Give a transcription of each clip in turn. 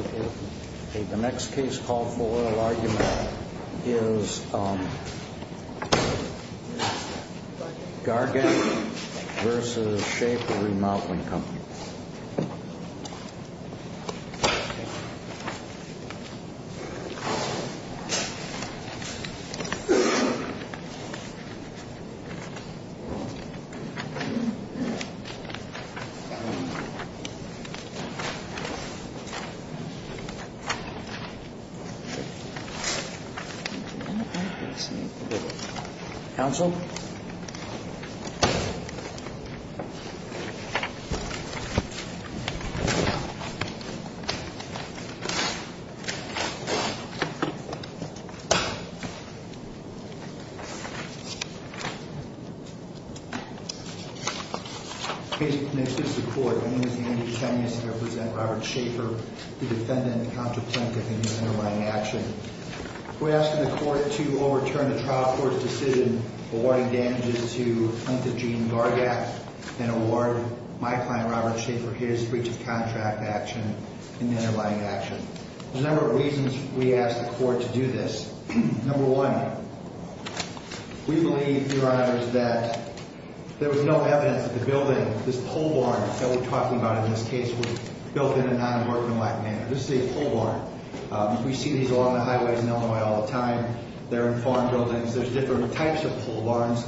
OK, the next case call for argument is Gargan versus Shafer Remodeling Company. Counsel. I'm going to start by saying that I'm going to be representing Robert Shaffer, the defendant, Counsel Plaintiff, in the underlying action. We're asking the court to overturn the trial court's decision awarding damages to Plaintiff Gene Gargak and award my client, Robert Shaffer, his breach of contract action in the underlying action. There's a number of reasons we ask the court to do this. Number one, we believe, Your Honors, that there was no evidence that the building, this pole barn that we're talking about, was in there. This is a pole barn. We see these along the highways in Illinois all the time. There are farm buildings. There's different types of pole barns.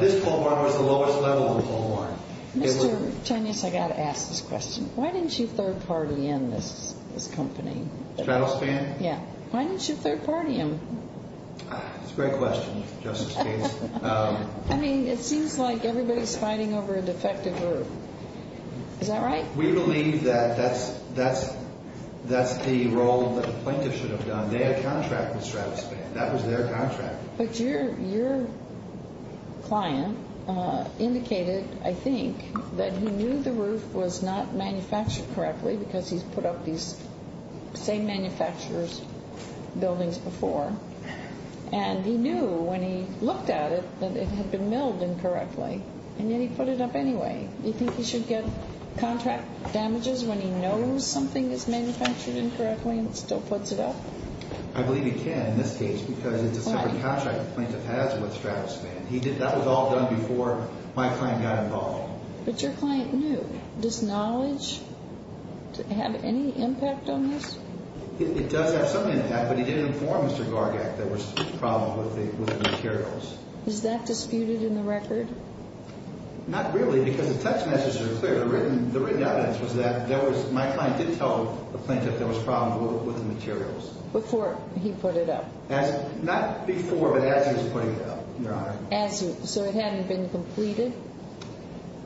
This pole barn was the lowest level of a pole barn. Mr. Chanez, I've got to ask this question. Why didn't you third-party in this company? Travel Span? Yeah. Why didn't you third-party him? It's a great question, Justice Bates. I mean, I don't know. I don't know. I don't know. I don't know. We believe that that's the role that the plaintiff should have done. Their contract was Travel Span. That was their contract. But your client indicated, I think, that he knew the roof was not manufactured correctly because he's put up these same manufacturer's buildings before. And he knew when he looked at it that it had been milled incorrectly, and yet he put it up anyway. Do you think he should get contract damages when he knows something is manufactured incorrectly and still puts it up? I believe he can in this case because it's a separate contract the plaintiff has with Travel Span. That was all done before my client got involved. But your client knew. Does knowledge have any impact on this? It does have some impact, but he did inform Mr. Gargak that there were problems with the materials. Is that disputed in the record? Not really because the text messages are clear. The written evidence was that my client did tell the plaintiff there was problems with the materials. Before he put it up? Not before, but as he was putting it up, Your Honor. So it hadn't been completed?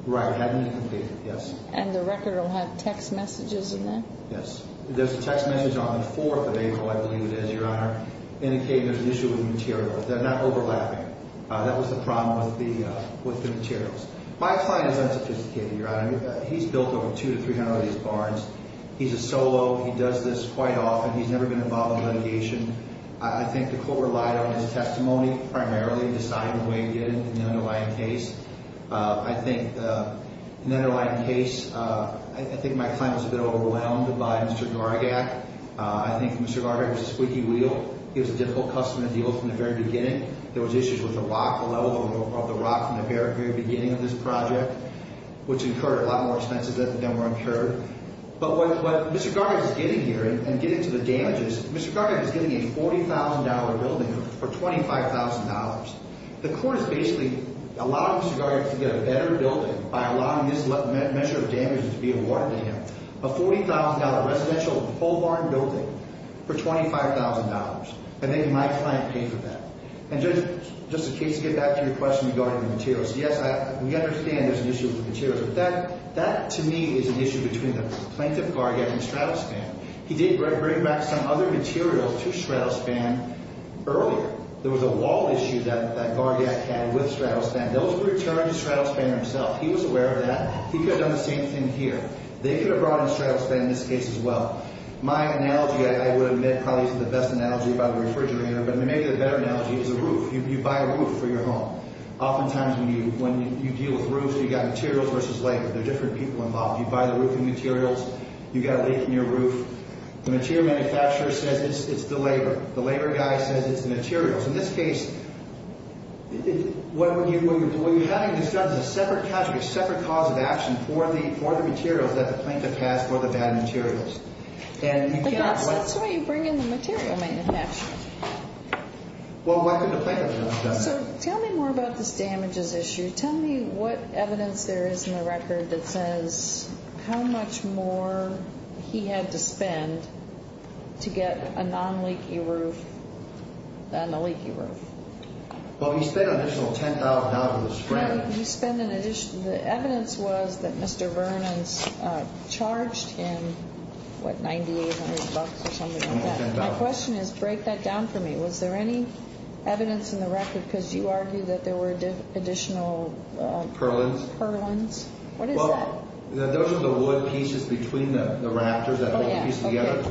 Right, it hadn't been completed, yes. And the record will have text messages in that? Yes. There's a text message on the 4th of April, I believe it is, Your Honor, indicating there's an issue with the materials. They're not overlapping. That was the problem with the materials. My client is unsophisticated, Your Honor. He's built over 200 to 300 of these barns. He's a solo. He does this quite often. He's never been involved in litigation. I think the court relied on his testimony primarily to decide the way to get into the underlying case. I think the underlying case, I think my client was a bit overwhelmed by Mr. Gargak. I think Mr. Gargak was a squeaky wheel. He was a difficult customer to deal with from the very beginning. There was issues with the rock, the level of the rock from the very beginning of this project, which incurred a lot more expenses than were incurred. But what Mr. Gargak is getting here and getting to the damages, Mr. Gargak is getting a $40,000 building for $25,000. The court is basically allowing Mr. Gargak to get a better building by allowing this measure of damages to be awarded to him, a $40,000 residential whole barn building for $25,000. I think my client paid for that. And, Judge, just in case, to get back to your question regarding the materials, yes, we understand there's an issue with the materials. But that, to me, is an issue between the plaintiff, Gargak, and Stratospan. He did bring back some other materials to Stratospan earlier. There was a wall issue that Gargak had with Stratospan. Those were returned to Stratospan himself. He was aware of that. He could have done the same thing here. They could have brought in Stratospan in this case as well. My analogy, I would admit, probably is the best analogy about a refrigerator. But maybe the better analogy is a roof. You buy a roof for your home. Oftentimes, when you deal with roofs, you've got materials versus labor. There are different people involved. You buy the roofing materials. You've got a leak in your roof. The material manufacturer says it's the labor. The labor guy says it's the materials. In this case, what you're having is done as a separate cause of action for the materials that the plaintiff has for the bad materials. That's why you bring in the material manufacturer. Well, what could the plaintiff have done? Tell me more about this damages issue. Tell me what evidence there is in the record that says how much more he had to spend to get a non-leaky roof than a leaky roof. Well, he spent an additional $10,000. The evidence was that Mr. Vernon charged him, what, $9,800 or something like that. My question is, break that down for me. Was there any evidence in the record? Because you argued that there were additional purlins. What is that? Those are the wood pieces between the rafters, that whole piece together.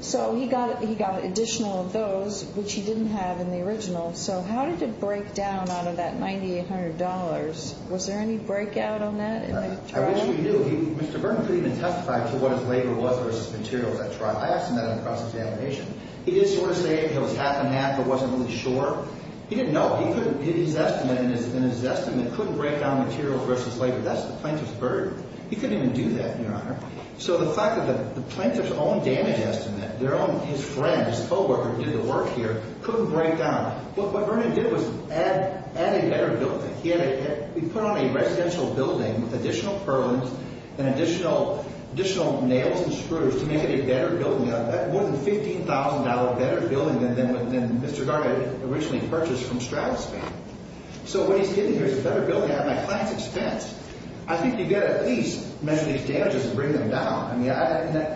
So he got additional of those, which he didn't have in the original. So how did it break down out of that $9,800? Was there any breakout on that in the trial? I wish we knew. Mr. Vernon couldn't even testify to what his labor was versus materials at trial. I asked him that in the process of examination. He did sort of say it was half and half, but wasn't really sure. He didn't know. He did his estimate, and his estimate couldn't break down material versus labor. That's the plaintiff's burden. He couldn't even do that, Your Honor. So the fact that the plaintiff's own damage estimate, their own, his friend, his co-worker who did the work here, couldn't break down. What Vernon did was add a better building. He put on a residential building with additional purlins and additional nails and screws to make it a better building, more than $15,000 better building than Mr. Gardner originally purchased from Stratospan. So what he's getting here is a better building at my client's expense. I think you've got to at least measure these damages and bring them down. I mean,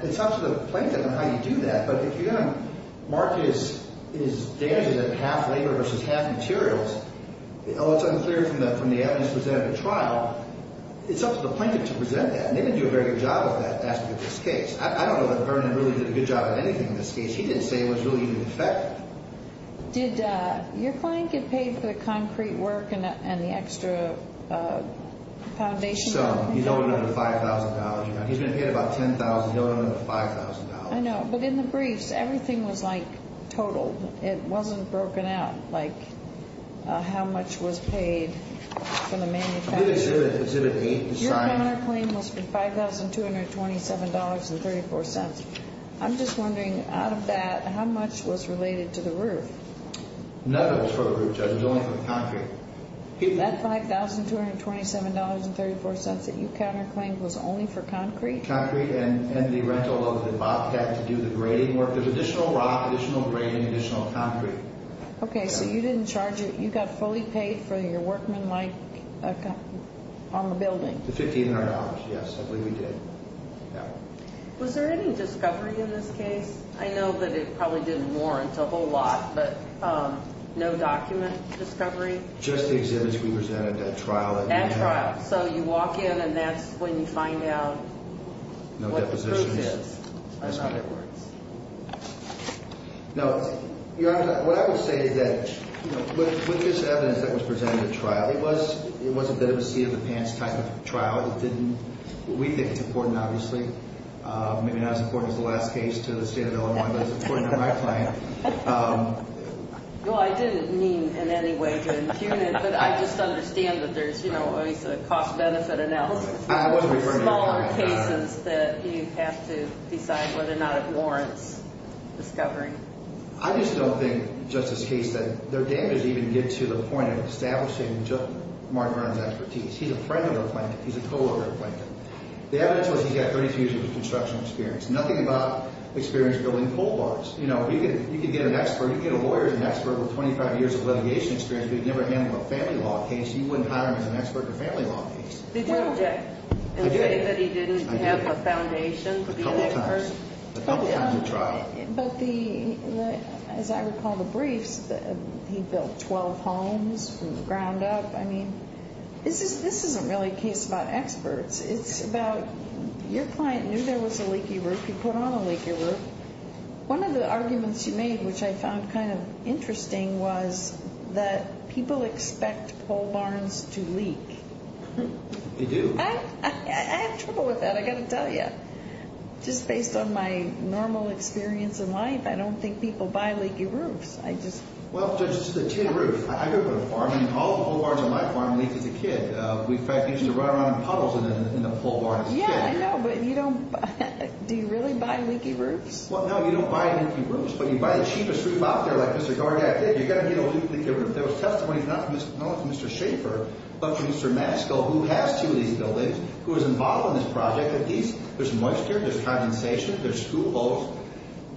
it's up to the plaintiff on how you do that. But if you're going to mark his damages as half labor versus half materials, although it's unclear from the evidence presented at the trial, it's up to the plaintiff to present that. And they've been doing a very good job with that aspect of this case. I don't know that Vernon really did a good job at anything in this case. He didn't say it was really even effective. Did your client get paid for the concrete work and the extra foundation? Some. He's owed another $5,000. He's been paid about $10,000. He's owed another $5,000. I know. But in the briefs, everything was, like, totaled. It wasn't broken out, like, how much was paid for the manufacturing. It's in the brief. Your counterclaim was for $5,227.34. I'm just wondering, out of that, how much was related to the roof? None of it was for the roof, Judge. It was only for the concrete. That $5,227.34 that you counterclaimed was only for concrete? Concrete and the rental of the Bobcat to do the grading work. There's additional rock, additional grade, and additional concrete. Okay. So you didn't charge it. You got fully paid for your workmanlike on the building? The $1,500, yes. I believe we did. Was there any discovery in this case? I know that it probably didn't warrant a whole lot, but no document discovery? Just the exhibits we presented at trial. At trial. So you walk in, and that's when you find out what the proof is. No depositions. That's how it works. No, Your Honor, what I would say is that with this evidence that was presented at trial, it was a bit of a see-in-the-pants type of trial. It didn't—we think it's important, obviously. Maybe not as important as the last case to the State of Illinois, but it's important to my client. Well, I didn't mean in any way to impugn it, but I just understand that there's always a cost-benefit analysis. I wasn't referring to that. Smaller cases that you have to decide whether or not it warrants discovering. I just don't think, Justice Case, that their damages even get to the point of establishing Mark Vernon's expertise. He's a friend of the plaintiff. He's a co-worker of the plaintiff. The evidence was he's got 30 years of construction experience. Nothing about experience building pole bars. You could get an expert—you could get a lawyer who's an expert with 25 years of litigation experience, but he'd never handled a family law case. You wouldn't hire him as an expert in a family law case. Did you object and say that he didn't have a foundation? A couple of times. A couple of times at trial. But the—as I recall the briefs, he built 12 homes from the ground up. I mean, this isn't really a case about experts. It's about your client knew there was a leaky roof. He put on a leaky roof. One of the arguments you made, which I found kind of interesting, was that people expect pole barns to leak. They do. I have trouble with that, I've got to tell you. Just based on my normal experience in life, I don't think people buy leaky roofs. I just— Well, Judge, this is a tin roof. I grew up on a farm, and all the pole barns on my farm leaked as a kid. We, in fact, used to run around in puddles in the pole barn as a kid. Yeah, I know, but you don't—do you really buy leaky roofs? Well, no, you don't buy leaky roofs, but you buy the cheapest roof out there. Like Mr. Gordak did. You're going to need a leaky roof. There was testimony not from Mr. Schaefer, but from Mr. Matsko, who has two of these buildings, who was involved in this project, that there's moisture, there's condensation, there's school holes.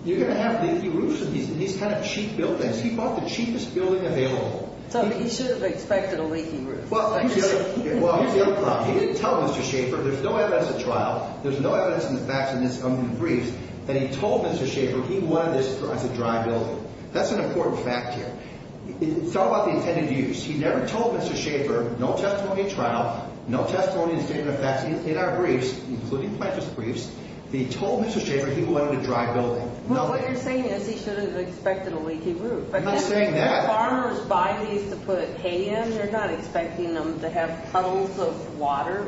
You're going to have leaky roofs in these kind of cheap buildings. He bought the cheapest building available. So he should have expected a leaky roof. Well, he didn't tell Mr. Schaefer. There's no evidence of trial. There's no evidence in the facts in these briefs that he told Mr. Schaefer he wanted this as a dry building. That's an important fact here. It's all about the intended use. He never told Mr. Schaefer. No testimony at trial, no testimony in the facts in our briefs, including Plaintiff's briefs, that he told Mr. Schaefer he wanted a dry building. Well, what you're saying is he should have expected a leaky roof. I'm not saying that. Farmers buy these to put hay in. They're not expecting them to have puddles of water,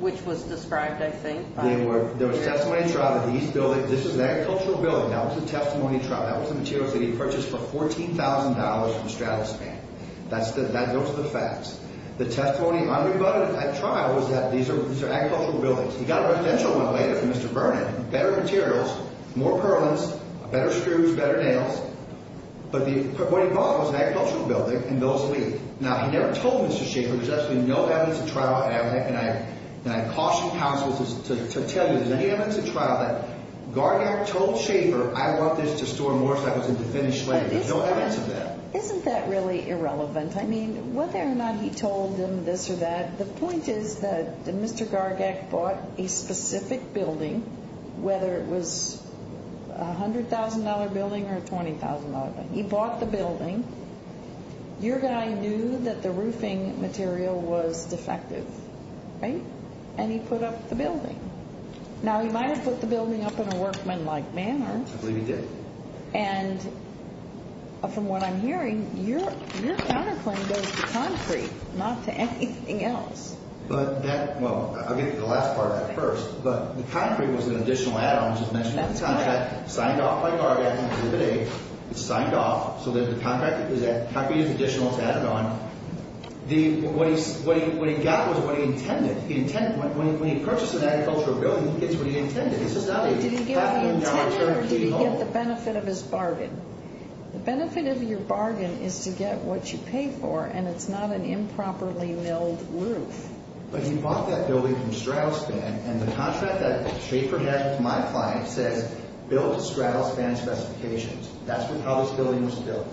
which was described, I think. There was testimony at trial that these buildings, this is an agricultural building. That was a testimony trial. That was the materials that he purchased for $14,000 from Stratospan. That goes to the facts. The testimony unrebutted at trial was that these are agricultural buildings. He got a residential one later from Mr. Vernon. Better materials, more purlins, better screws, better nails. But what he bought was an agricultural building, and those leak. Now, he never told Mr. Schaefer. There's absolutely no evidence at trial. And I caution counsels to tell you, if there's any evidence at trial, that Gargak told Schaefer, I want this to store more cycles into finished labor. There's no evidence of that. Isn't that really irrelevant? I mean, whether or not he told them this or that, the point is that Mr. Gargak bought a specific building, whether it was a $100,000 building or a $20,000 building. He bought the building. Your guy knew that the roofing material was defective, right? And he put up the building. Now, he might have put the building up in a workmanlike manner. I believe he did. And from what I'm hearing, your counterclaim goes to concrete, not to anything else. Well, I'll get to the last part of that first. But the concrete was an additional add-on. I just mentioned the contract. Signed off by Gargak. It's signed off. So the concrete is additional. It's added on. What he got was what he intended. When he purchased an agricultural building, he gets what he intended. It's just not a $100,000 building. Did he get the benefit of his bargain? The benefit of your bargain is to get what you pay for, and it's not an improperly milled roof. But he bought that building from Stratospan, and the contract that Schaefer had with my client says, build to Stratospan specifications. That's how this building was built.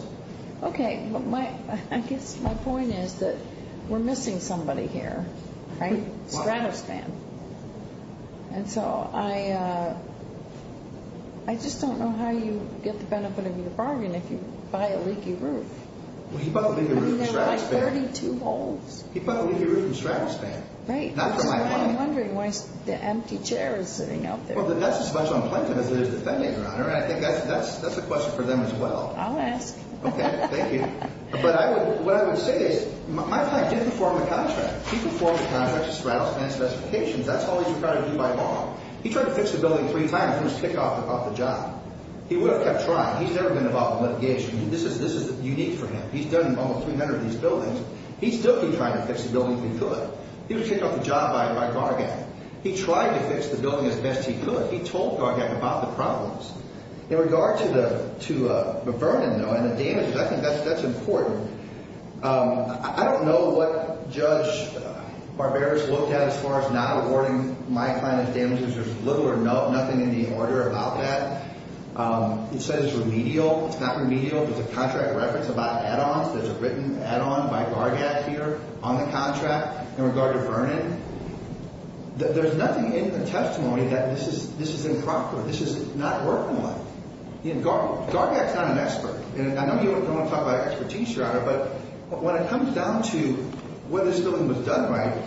Okay. I guess my point is that we're missing somebody here, right? Stratospan. And so I just don't know how you get the benefit of your bargain if you buy a leaky roof. Well, he bought the leaky roof from Stratospan. I mean, there are like 32 holes. He bought the leaky roof from Stratospan. Right. Which is why I'm wondering why the empty chair is sitting out there. Well, that's as much on plaintiff as it is the defendant, Your Honor, and I think that's a question for them as well. I'll ask. Okay. Thank you. But what I would say is my client did perform a contract. That's all he's required to do by law. He tried to fix the building three times and was kicked off the job. He would have kept trying. He's never been involved in litigation. This is unique for him. He's done almost 300 of these buildings. He's still been trying to fix the building if he could. He was kicked off the job by Gargak. He tried to fix the building as best he could. He told Gargak about the problems. In regard to Vernon, though, and the damages, I think that's important. I don't know what Judge Barberis looked at as far as not awarding my client his damages. There's little or nothing in the order about that. It says remedial. It's not remedial. There's a contract reference about add-ons. There's a written add-on by Gargak here on the contract in regard to Vernon. There's nothing in the testimony that this is improper. This is not working well. Gargak's not an expert. I know you don't want to talk about expertise, Your Honor, but when it comes down to whether this building was done right,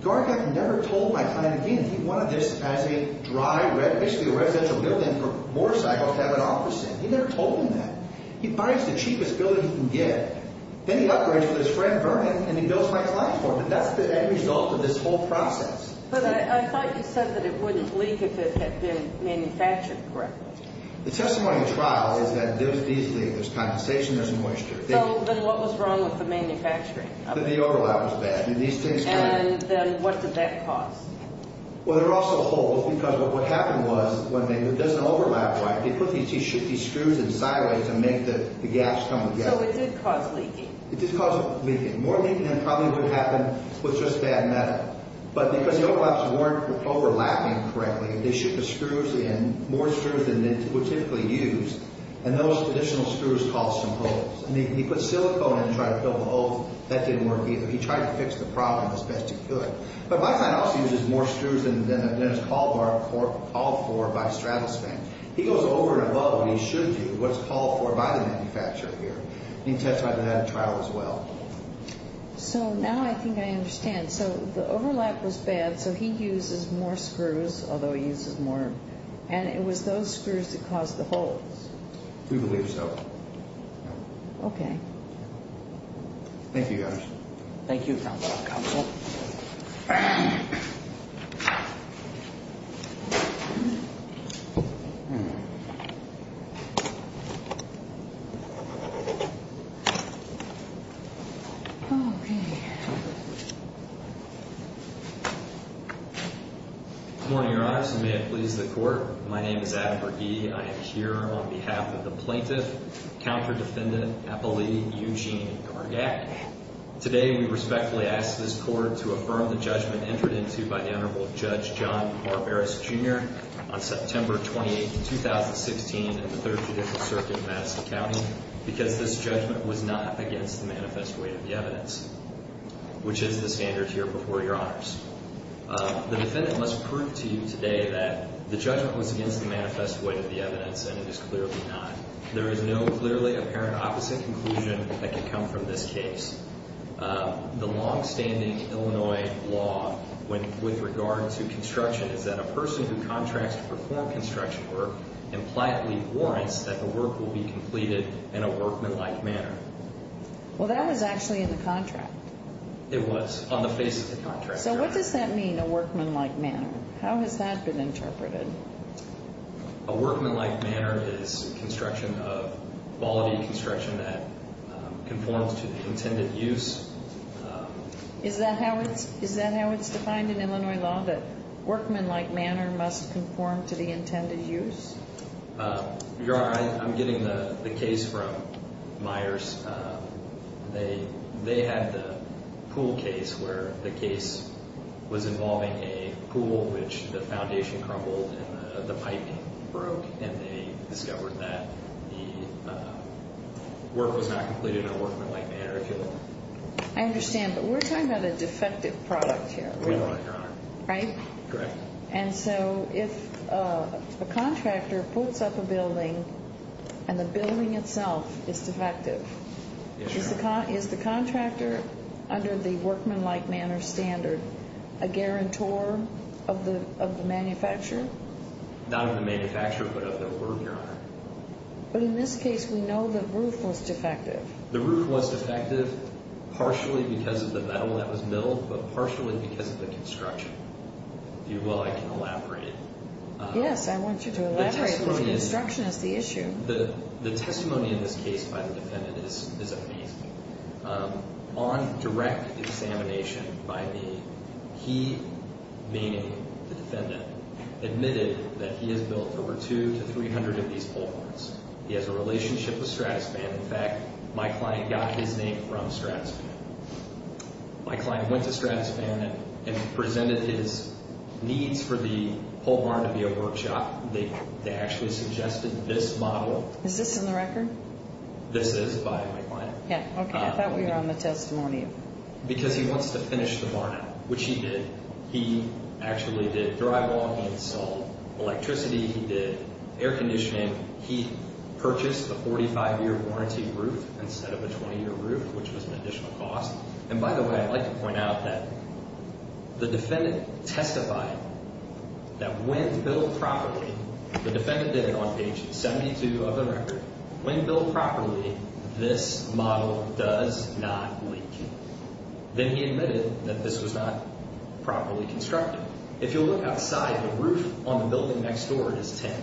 Gargak never told my client again he wanted this as a dry residential building for motorcycles to have an office in. He never told him that. He buys the cheapest building he can get. Then he upgrades with his friend Vernon, and he builds my client's home. That's the end result of this whole process. But I thought you said that it wouldn't leak if it had been manufactured correctly. The testimony trial is that these leak. There's condensation. There's moisture. Then what was wrong with the manufacturing? The overlap was bad. Then what did that cause? Well, they're also holes because what happened was, it doesn't overlap right. They put these screws in sideways to make the gaps come together. So it did cause leaking. It did cause leaking. More leaking than probably would happen with just bad metal. But because the overlaps weren't overlapping correctly, they shipped the screws in, more screws than they would typically use, and those additional screws caused some holes. He put silicone in to try to fill the holes. That didn't work either. He tried to fix the problem as best he could. But my client also uses more screws than is called for by Stratospin. He goes over and above what he should do, what's called for by the manufacturer here. He testified to that in trial as well. So now I think I understand. So the overlap was bad, so he uses more screws, although he uses more, and it was those screws that caused the holes. We believe so. Okay. Thank you, guys. Thank you, counsel. Counsel. Okay. Okay. Good morning, Your Honor. May it please the court. My name is Adam Berge. I am here on behalf of the plaintiff, counter-defendant, appellee Eugene Gargak. Today we respectfully ask this court to affirm the judgment entered into by the Honorable Judge John Barberis, Jr. on September 28, 2016, in the Third Judicial Circuit in Madison County because this judgment was not against the manifest weight of the evidence, which is the standard here before Your Honors. The defendant must prove to you today that the judgment was against the manifest weight of the evidence, and it is clearly not. There is no clearly apparent opposite conclusion that can come from this case. The longstanding Illinois law with regard to construction is that a person who contracts to perform construction work impliantly warrants that the work will be completed in a workmanlike manner. Well, that was actually in the contract. It was on the face of the contract. So what does that mean, a workmanlike manner? How has that been interpreted? A workmanlike manner is construction of quality construction that conforms to the intended use. Is that how it's defined in Illinois law, that workmanlike manner must conform to the intended use? Your Honor, I'm getting the case from Myers. They had the pool case where the case was involving a pool which the foundation crumbled and the piping broke, and they discovered that the work was not completed in a workmanlike manner. I understand, but we're talking about a defective product here, right? We are, Your Honor. Right? Correct. And so if a contractor pulls up a building and the building itself is defective, is the contractor under the workmanlike manner standard a guarantor of the manufacturer? Not of the manufacturer, but of the work, Your Honor. But in this case, we know the roof was defective. The roof was defective partially because of the metal that was milled, but partially because of the construction. If you will, I can elaborate. Yes, I want you to elaborate because construction is the issue. The testimony in this case by the defendant is amazing. On direct examination by me, he, meaning the defendant, admitted that he has built over 200 to 300 of these pole barns. He has a relationship with Stratospan. In fact, my client got his name from Stratospan. My client went to Stratospan and presented his needs for the pole barn to be a workshop. They actually suggested this model. This is by my client. Okay, I thought we were on the testimony. Because he wants to finish the barn up, which he did. He actually did drywall. He installed electricity. He did air conditioning. He purchased a 45-year warranty roof instead of a 20-year roof, which was an additional cost. And by the way, I'd like to point out that the defendant testified that when built properly, the defendant did it on page 72 of the record. When built properly, this model does not leak. Then he admitted that this was not properly constructed. If you look outside, the roof on the building next door is tin.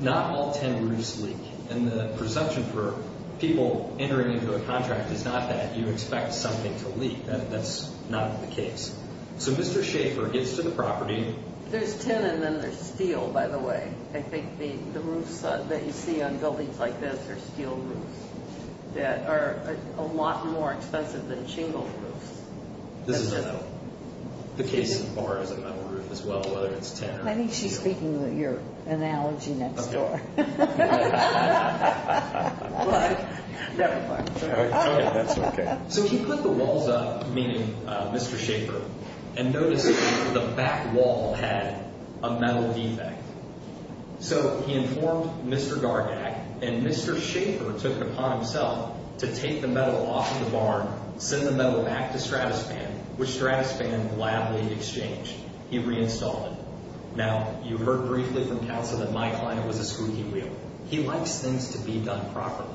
Not all tin roofs leak. And the presumption for people entering into a contract is not that you expect something to leak. That's not the case. So Mr. Schaefer gets to the property. There's tin and then there's steel, by the way. I think the roofs that you see on buildings like this are steel roofs that are a lot more expensive than shingled roofs. This is a metal. The case of the bar is a metal roof as well, whether it's tin or steel. I think she's speaking to your analogy next door. Never mind. Okay, that's okay. So he put the walls up, meaning Mr. Schaefer, and noticed that the back wall had a metal defect. So he informed Mr. Gargak, and Mr. Schaefer took it upon himself to take the metal off of the barn, send the metal back to Stratospan, which Stratospan gladly exchanged. He reinstalled it. Now, you heard briefly from counsel that my client was a squeaky wheel. He likes things to be done properly.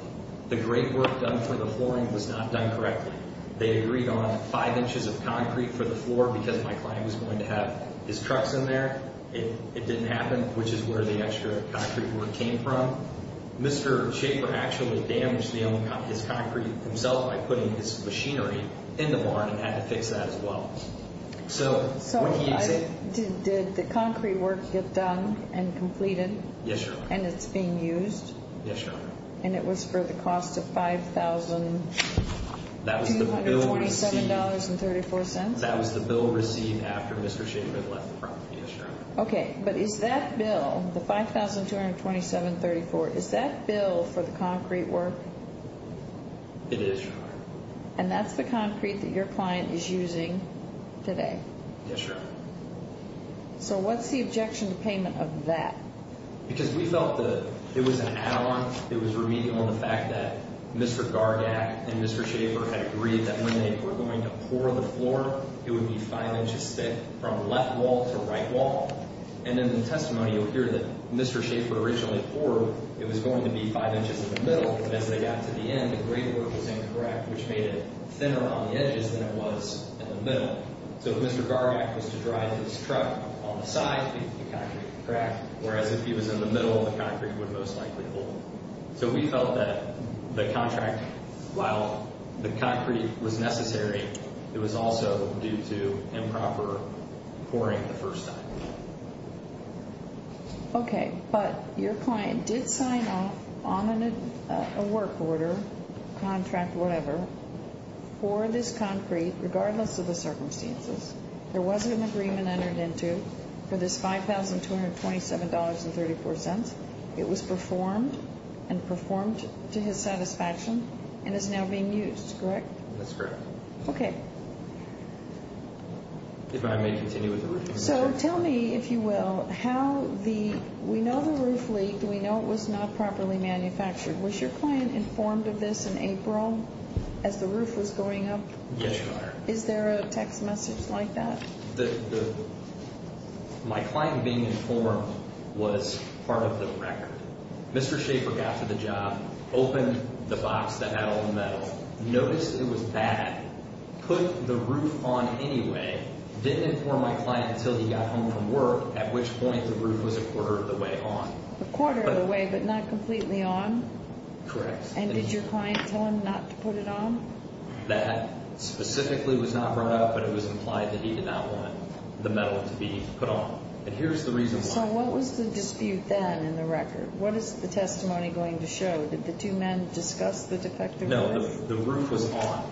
The great work done for the flooring was not done correctly. They agreed on five inches of concrete for the floor because my client was going to have his trucks in there. It didn't happen, which is where the extra concrete work came from. Mr. Schaefer actually damaged his concrete himself by putting his machinery in the barn and had to fix that as well. Did the concrete work get done and completed? Yes, Your Honor. And it's being used? Yes, Your Honor. And it was for the cost of $5,227.34? That was the bill received after Mr. Schaefer had left the property. Yes, Your Honor. Okay, but is that bill, the $5,227.34, is that bill for the concrete work? It is, Your Honor. And that's the concrete that your client is using today? Yes, Your Honor. So what's the objection to payment of that? Because we felt that it was an add-on. It was remedial in the fact that Mr. Gargak and Mr. Schaefer had agreed that when they were going to pour the floor, it would be five inches thick from left wall to right wall. And in the testimony, you'll hear that Mr. Schaefer originally poured, it was going to be five inches in the middle. As they got to the end, the grade work was incorrect, which made it thinner on the edges than it was in the middle. So if Mr. Gargak was to drive his truck on the side, the concrete would crack, whereas if he was in the middle, the concrete would most likely hold. So we felt that the contract, while the concrete was necessary, it was also due to improper pouring the first time. Okay. But your client did sign off on a work order, contract, whatever, for this concrete, regardless of the circumstances. There wasn't an agreement entered into for this $5,227.34. It was performed and performed to his satisfaction and is now being used, correct? That's correct. Okay. If I may continue with the review. So tell me, if you will, how the, we know the roof leaked. We know it was not properly manufactured. Was your client informed of this in April as the roof was going up? Yes, Your Honor. Is there a text message like that? My client being informed was part of the record. Mr. Schaefer got to the job, opened the box that had all the metal, noticed it was bad, put the roof on anyway, didn't inform my client until he got home from work, at which point the roof was a quarter of the way on. A quarter of the way, but not completely on? Correct. And did your client tell him not to put it on? That specifically was not brought up, but it was implied that he did not want the metal to be put on. And here's the reason why. So what was the dispute then in the record? What is the testimony going to show? Did the two men discuss the defective roof? No, the roof was on.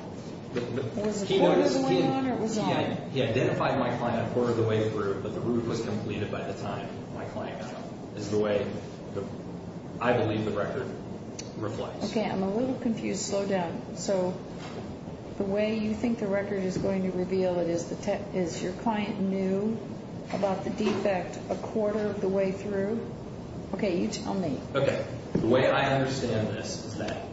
Was a quarter of the way on or it was on? He identified my client a quarter of the way through, but the roof was completed by the time my client got home. This is the way I believe the record reflects. Okay. I'm a little confused. Slow down. So the way you think the record is going to reveal it is your client knew about the defect a quarter of the way through? Okay. You tell me. Okay. The way I understand this is that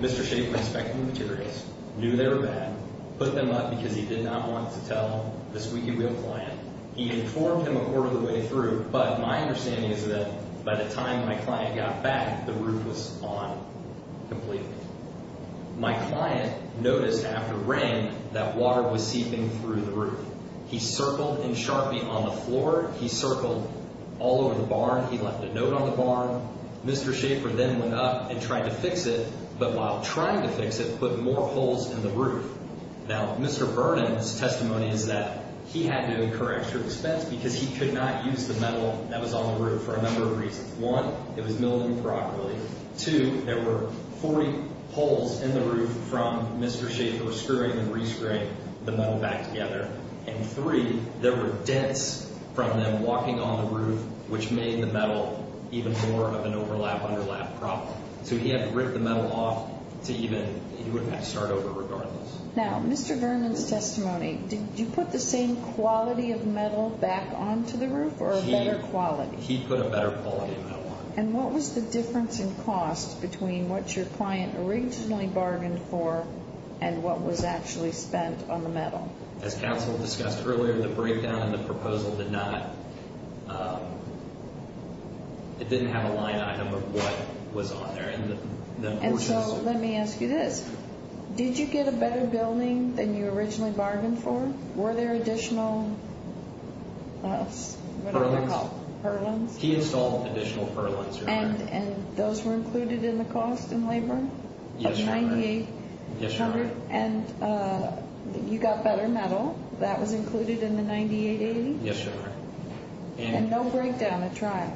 Mr. Schaefer inspected the materials, knew they were bad, put them up because he did not want to tell the squeaky wheel client. He informed him a quarter of the way through, but my understanding is that by the time my client got back, the roof was on completely. My client noticed after rain that water was seeping through the roof. He circled in Sharpie on the floor. He circled all over the barn. He left a note on the barn. Mr. Schaefer then went up and tried to fix it, but while trying to fix it, put more holes in the roof. Now, Mr. Vernon's testimony is that he had to incur extra expense because he could not use the metal that was on the roof for a number of reasons. One, it was milled improperly. Two, there were 40 holes in the roof from Mr. Schaefer screwing and re-screwing the metal back together. And three, there were dents from them walking on the roof, which made the metal even more of an overlap-underlap problem. So he had to rip the metal off to even start over regardless. Now, Mr. Vernon's testimony, did you put the same quality of metal back onto the roof or a better quality? He put a better quality of metal on it. And what was the difference in cost between what your client originally bargained for and what was actually spent on the metal? As counsel discussed earlier, the breakdown in the proposal did not, it didn't have a line item of what was on there. And so let me ask you this. Did you get a better building than you originally bargained for? Were there additional, what are they called? Perlins. Perlins. He installed additional perlins. And those were included in the cost in labor? Yes, Your Honor. At $9,800? Yes, Your Honor. And you got better metal. That was included in the $9,880? Yes, Your Honor. And no breakdown at trial?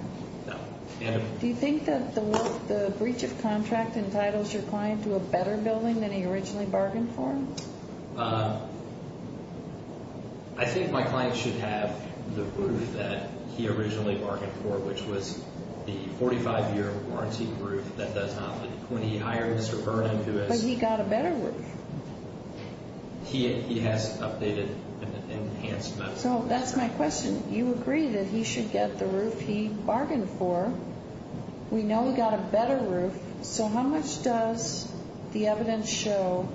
No. Do you think that the breach of contract entitles your client to a better building than he originally bargained for? I think my client should have the roof that he originally bargained for, which was the 45-year warranty roof that does not leak. But he got a better roof. He has updated and enhanced metal. So that's my question. You agree that he should get the roof he bargained for. We know he got a better roof. So how much does the evidence show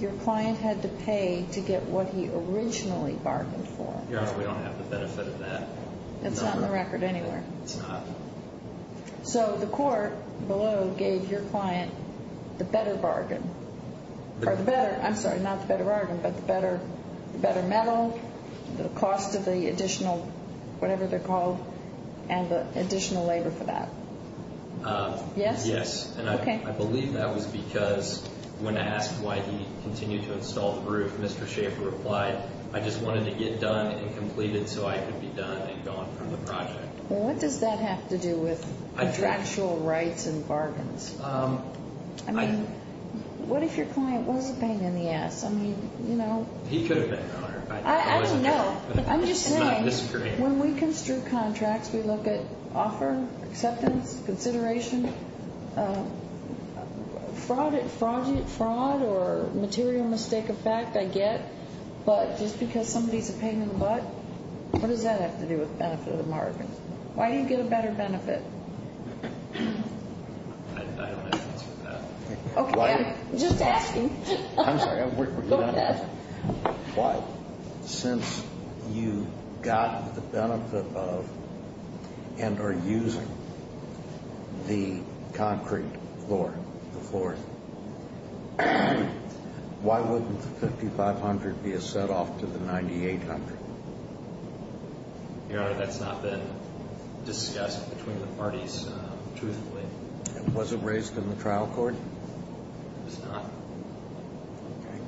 your client had to pay to get what he originally bargained for? Your Honor, we don't have the benefit of that. It's not in the record anywhere. It's not. So the court below gave your client the better bargain. I'm sorry, not the better bargain, but the better metal, the cost of the additional whatever they're called, and the additional labor for that. Yes? Yes. Okay. And I believe that was because when asked why he continued to install the roof, Mr. Schaffer replied, I just wanted to get done and completed so I could be done and gone from the project. Well, what does that have to do with contractual rights and bargains? I mean, what if your client wasn't paying in the ass? I mean, you know. He could have been, Your Honor. I don't know. I'm just saying when we construe contracts, we look at offer, acceptance, consideration, fraud or material mistake of fact, I get. But just because somebody is paying in the butt, what does that have to do with the benefit of the bargain? Why do you get a better benefit? I don't have an answer to that. Okay. I'm just asking. I'm sorry. Go ahead. But since you got the benefit of and are using the concrete floor, the floor, why wouldn't the 5,500 be a set off to the 9,800? Your Honor, that's not been discussed between the parties, truthfully. And was it raised in the trial court? It was not. Okay.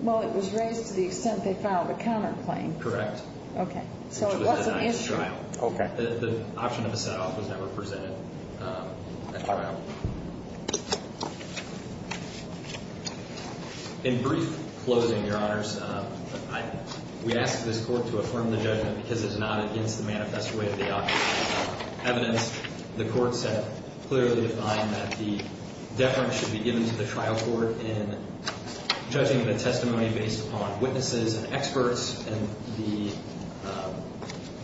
Well, it was raised to the extent they filed a counterclaim. Correct. Okay. So it wasn't issued. Okay. The option of a set off was never presented at the trial. In brief closing, Your Honors, we ask this court to affirm the judgment because it is not against the manifest way of the object. Evidence, the court said, clearly defined that the deference should be given to the trial court in judging the testimony based upon witnesses and experts, and the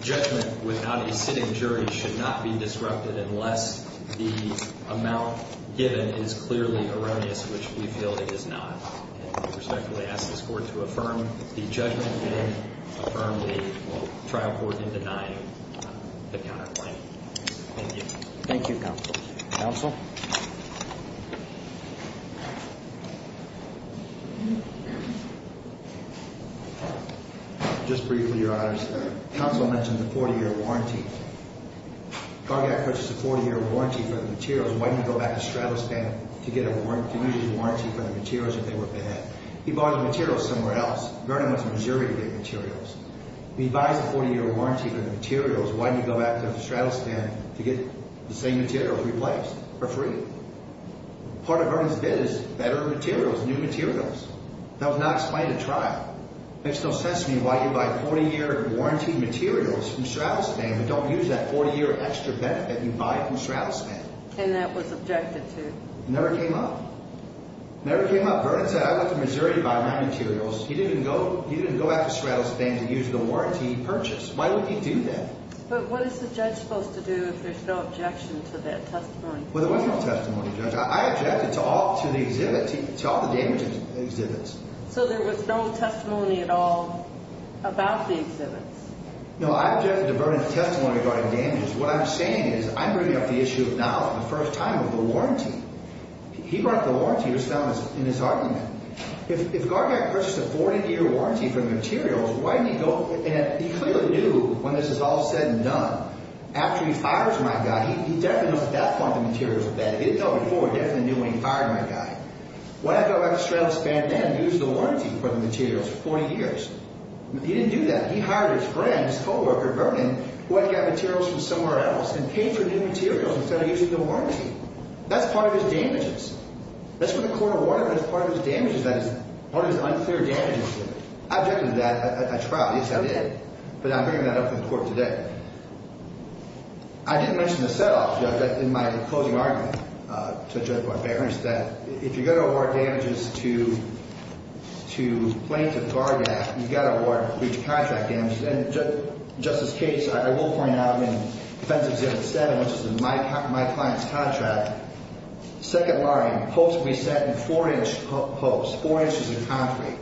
judgment without a sitting jury should not be disrupted unless the amount given is clearly erroneous, which we feel it is not. And we respectfully ask this court to affirm the judgment and affirm the trial court in denying the counterclaim. Thank you. Thank you, Counsel. Counsel? Just briefly, Your Honors, Counsel mentioned the 40-year warranty. Gargak purchased a 40-year warranty for the materials. Why didn't he go back to Stratastan to get a 40-year warranty for the materials if they were bad? He bought the materials somewhere else. Vernon went to Missouri to get materials. He buys a 40-year warranty for the materials. Why didn't he go back to Stratastan to get the same materials replaced or free? Part of Vernon's bid is better materials, new materials. That was not explained at trial. It makes no sense to me why you buy 40-year warranty materials from Stratastan but don't use that 40-year extra benefit you buy from Stratastan. And that was objected to. It never came up. It never came up. Vernon said, I went to Missouri to buy my materials. He didn't go back to Stratastan to use the warranty he purchased. Why would he do that? But what is the judge supposed to do if there's no objection to that testimony? Well, there was no testimony, Judge. I objected to all the damaged exhibits. So there was no testimony at all about the exhibits? No, I objected to Vernon's testimony regarding damages. What I'm saying is I'm bringing up the issue now for the first time of the warranty. He brought the warranty. It was found in his argument. If Gardner had purchased a 40-year warranty for the materials, why didn't he go? And he clearly knew when this is all said and done. After he fires my guy, he definitely knows at that point the materials are bad. He didn't know before. He definitely knew when he fired my guy. Why did I go back to Stratastan and use the warranty for the materials for 40 years? He didn't do that. He hired his friend, his co-worker, Vernon, who had to get materials from somewhere else, and paid for new materials instead of using the warranty. That's part of his damages. That's what the court awarded him as part of his damages, that is, part of his unclear damages. I objected to that at trial. Yes, I did. But I'm bringing that up in court today. I didn't mention the set-up in my closing argument to Judge Barbera is that if you're going to award damages to plaintiff Gardner, you've got to award breach of contract damages. And Justice Cates, I will point out in Defensive Exhibit 7, which is in my client's contract, second barring, posts will be set in 4-inch posts, 4 inches of concrete.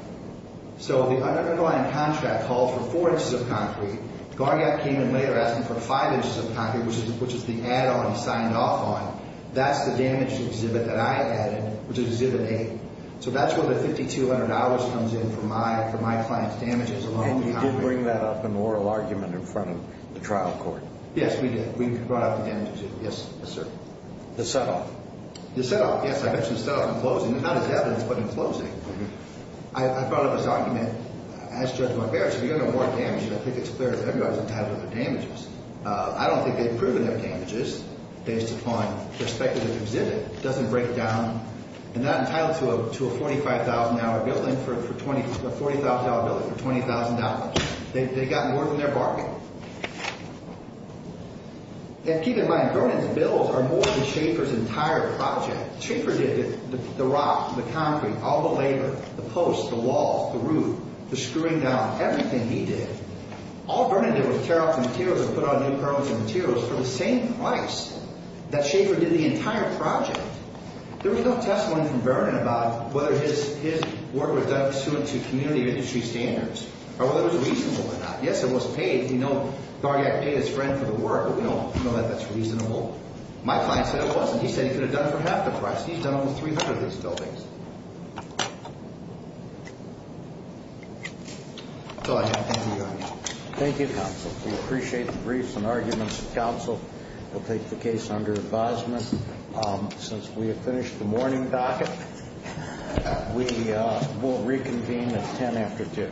So the underlying contract calls for 4 inches of concrete. Gardner came in later asking for 5 inches of concrete, which is the add-on he signed off on. That's the damage exhibit that I added, which is Exhibit 8. So that's where the $5,200 comes in for my client's damages alone. And you did bring that up in the oral argument in front of the trial court. Yes, we did. We brought up the damages. Yes, sir. The set-up. The set-up, yes. I mentioned the set-up in closing. Not as evidence, but in closing. I brought up this argument. As Judge Margaret said, you're going to award damages. I think it's clear that everybody's entitled to their damages. I don't think they've proven their damages based upon their speculative exhibit. It doesn't break down. They're not entitled to a $45,000 building for a $40,000 building for $20,000. They've got more than their bargain. And keep in mind, Vernon's bills are more than Schaefer's entire project. Schaefer did the rock, the concrete, all the labor, the posts, the walls, the roof, the screwing down, everything he did. All Vernon did was tear off the materials and put on new parts and materials for the same price that Schaefer did the entire project. There was no testimony from Vernon about whether his work was done pursuant to community industry standards or whether it was reasonable or not. Yes, it was paid. We know Gargak paid his friend for the work, but we don't know that that's reasonable. My client said it wasn't. He said he could have done for half the price. He's done almost 300 of these buildings. Go ahead. Thank you, Your Honor. Thank you, counsel. We appreciate the briefs and arguments of counsel. We'll take the case under advisement. Since we have finished the morning docket, we will reconvene at 10 after 2.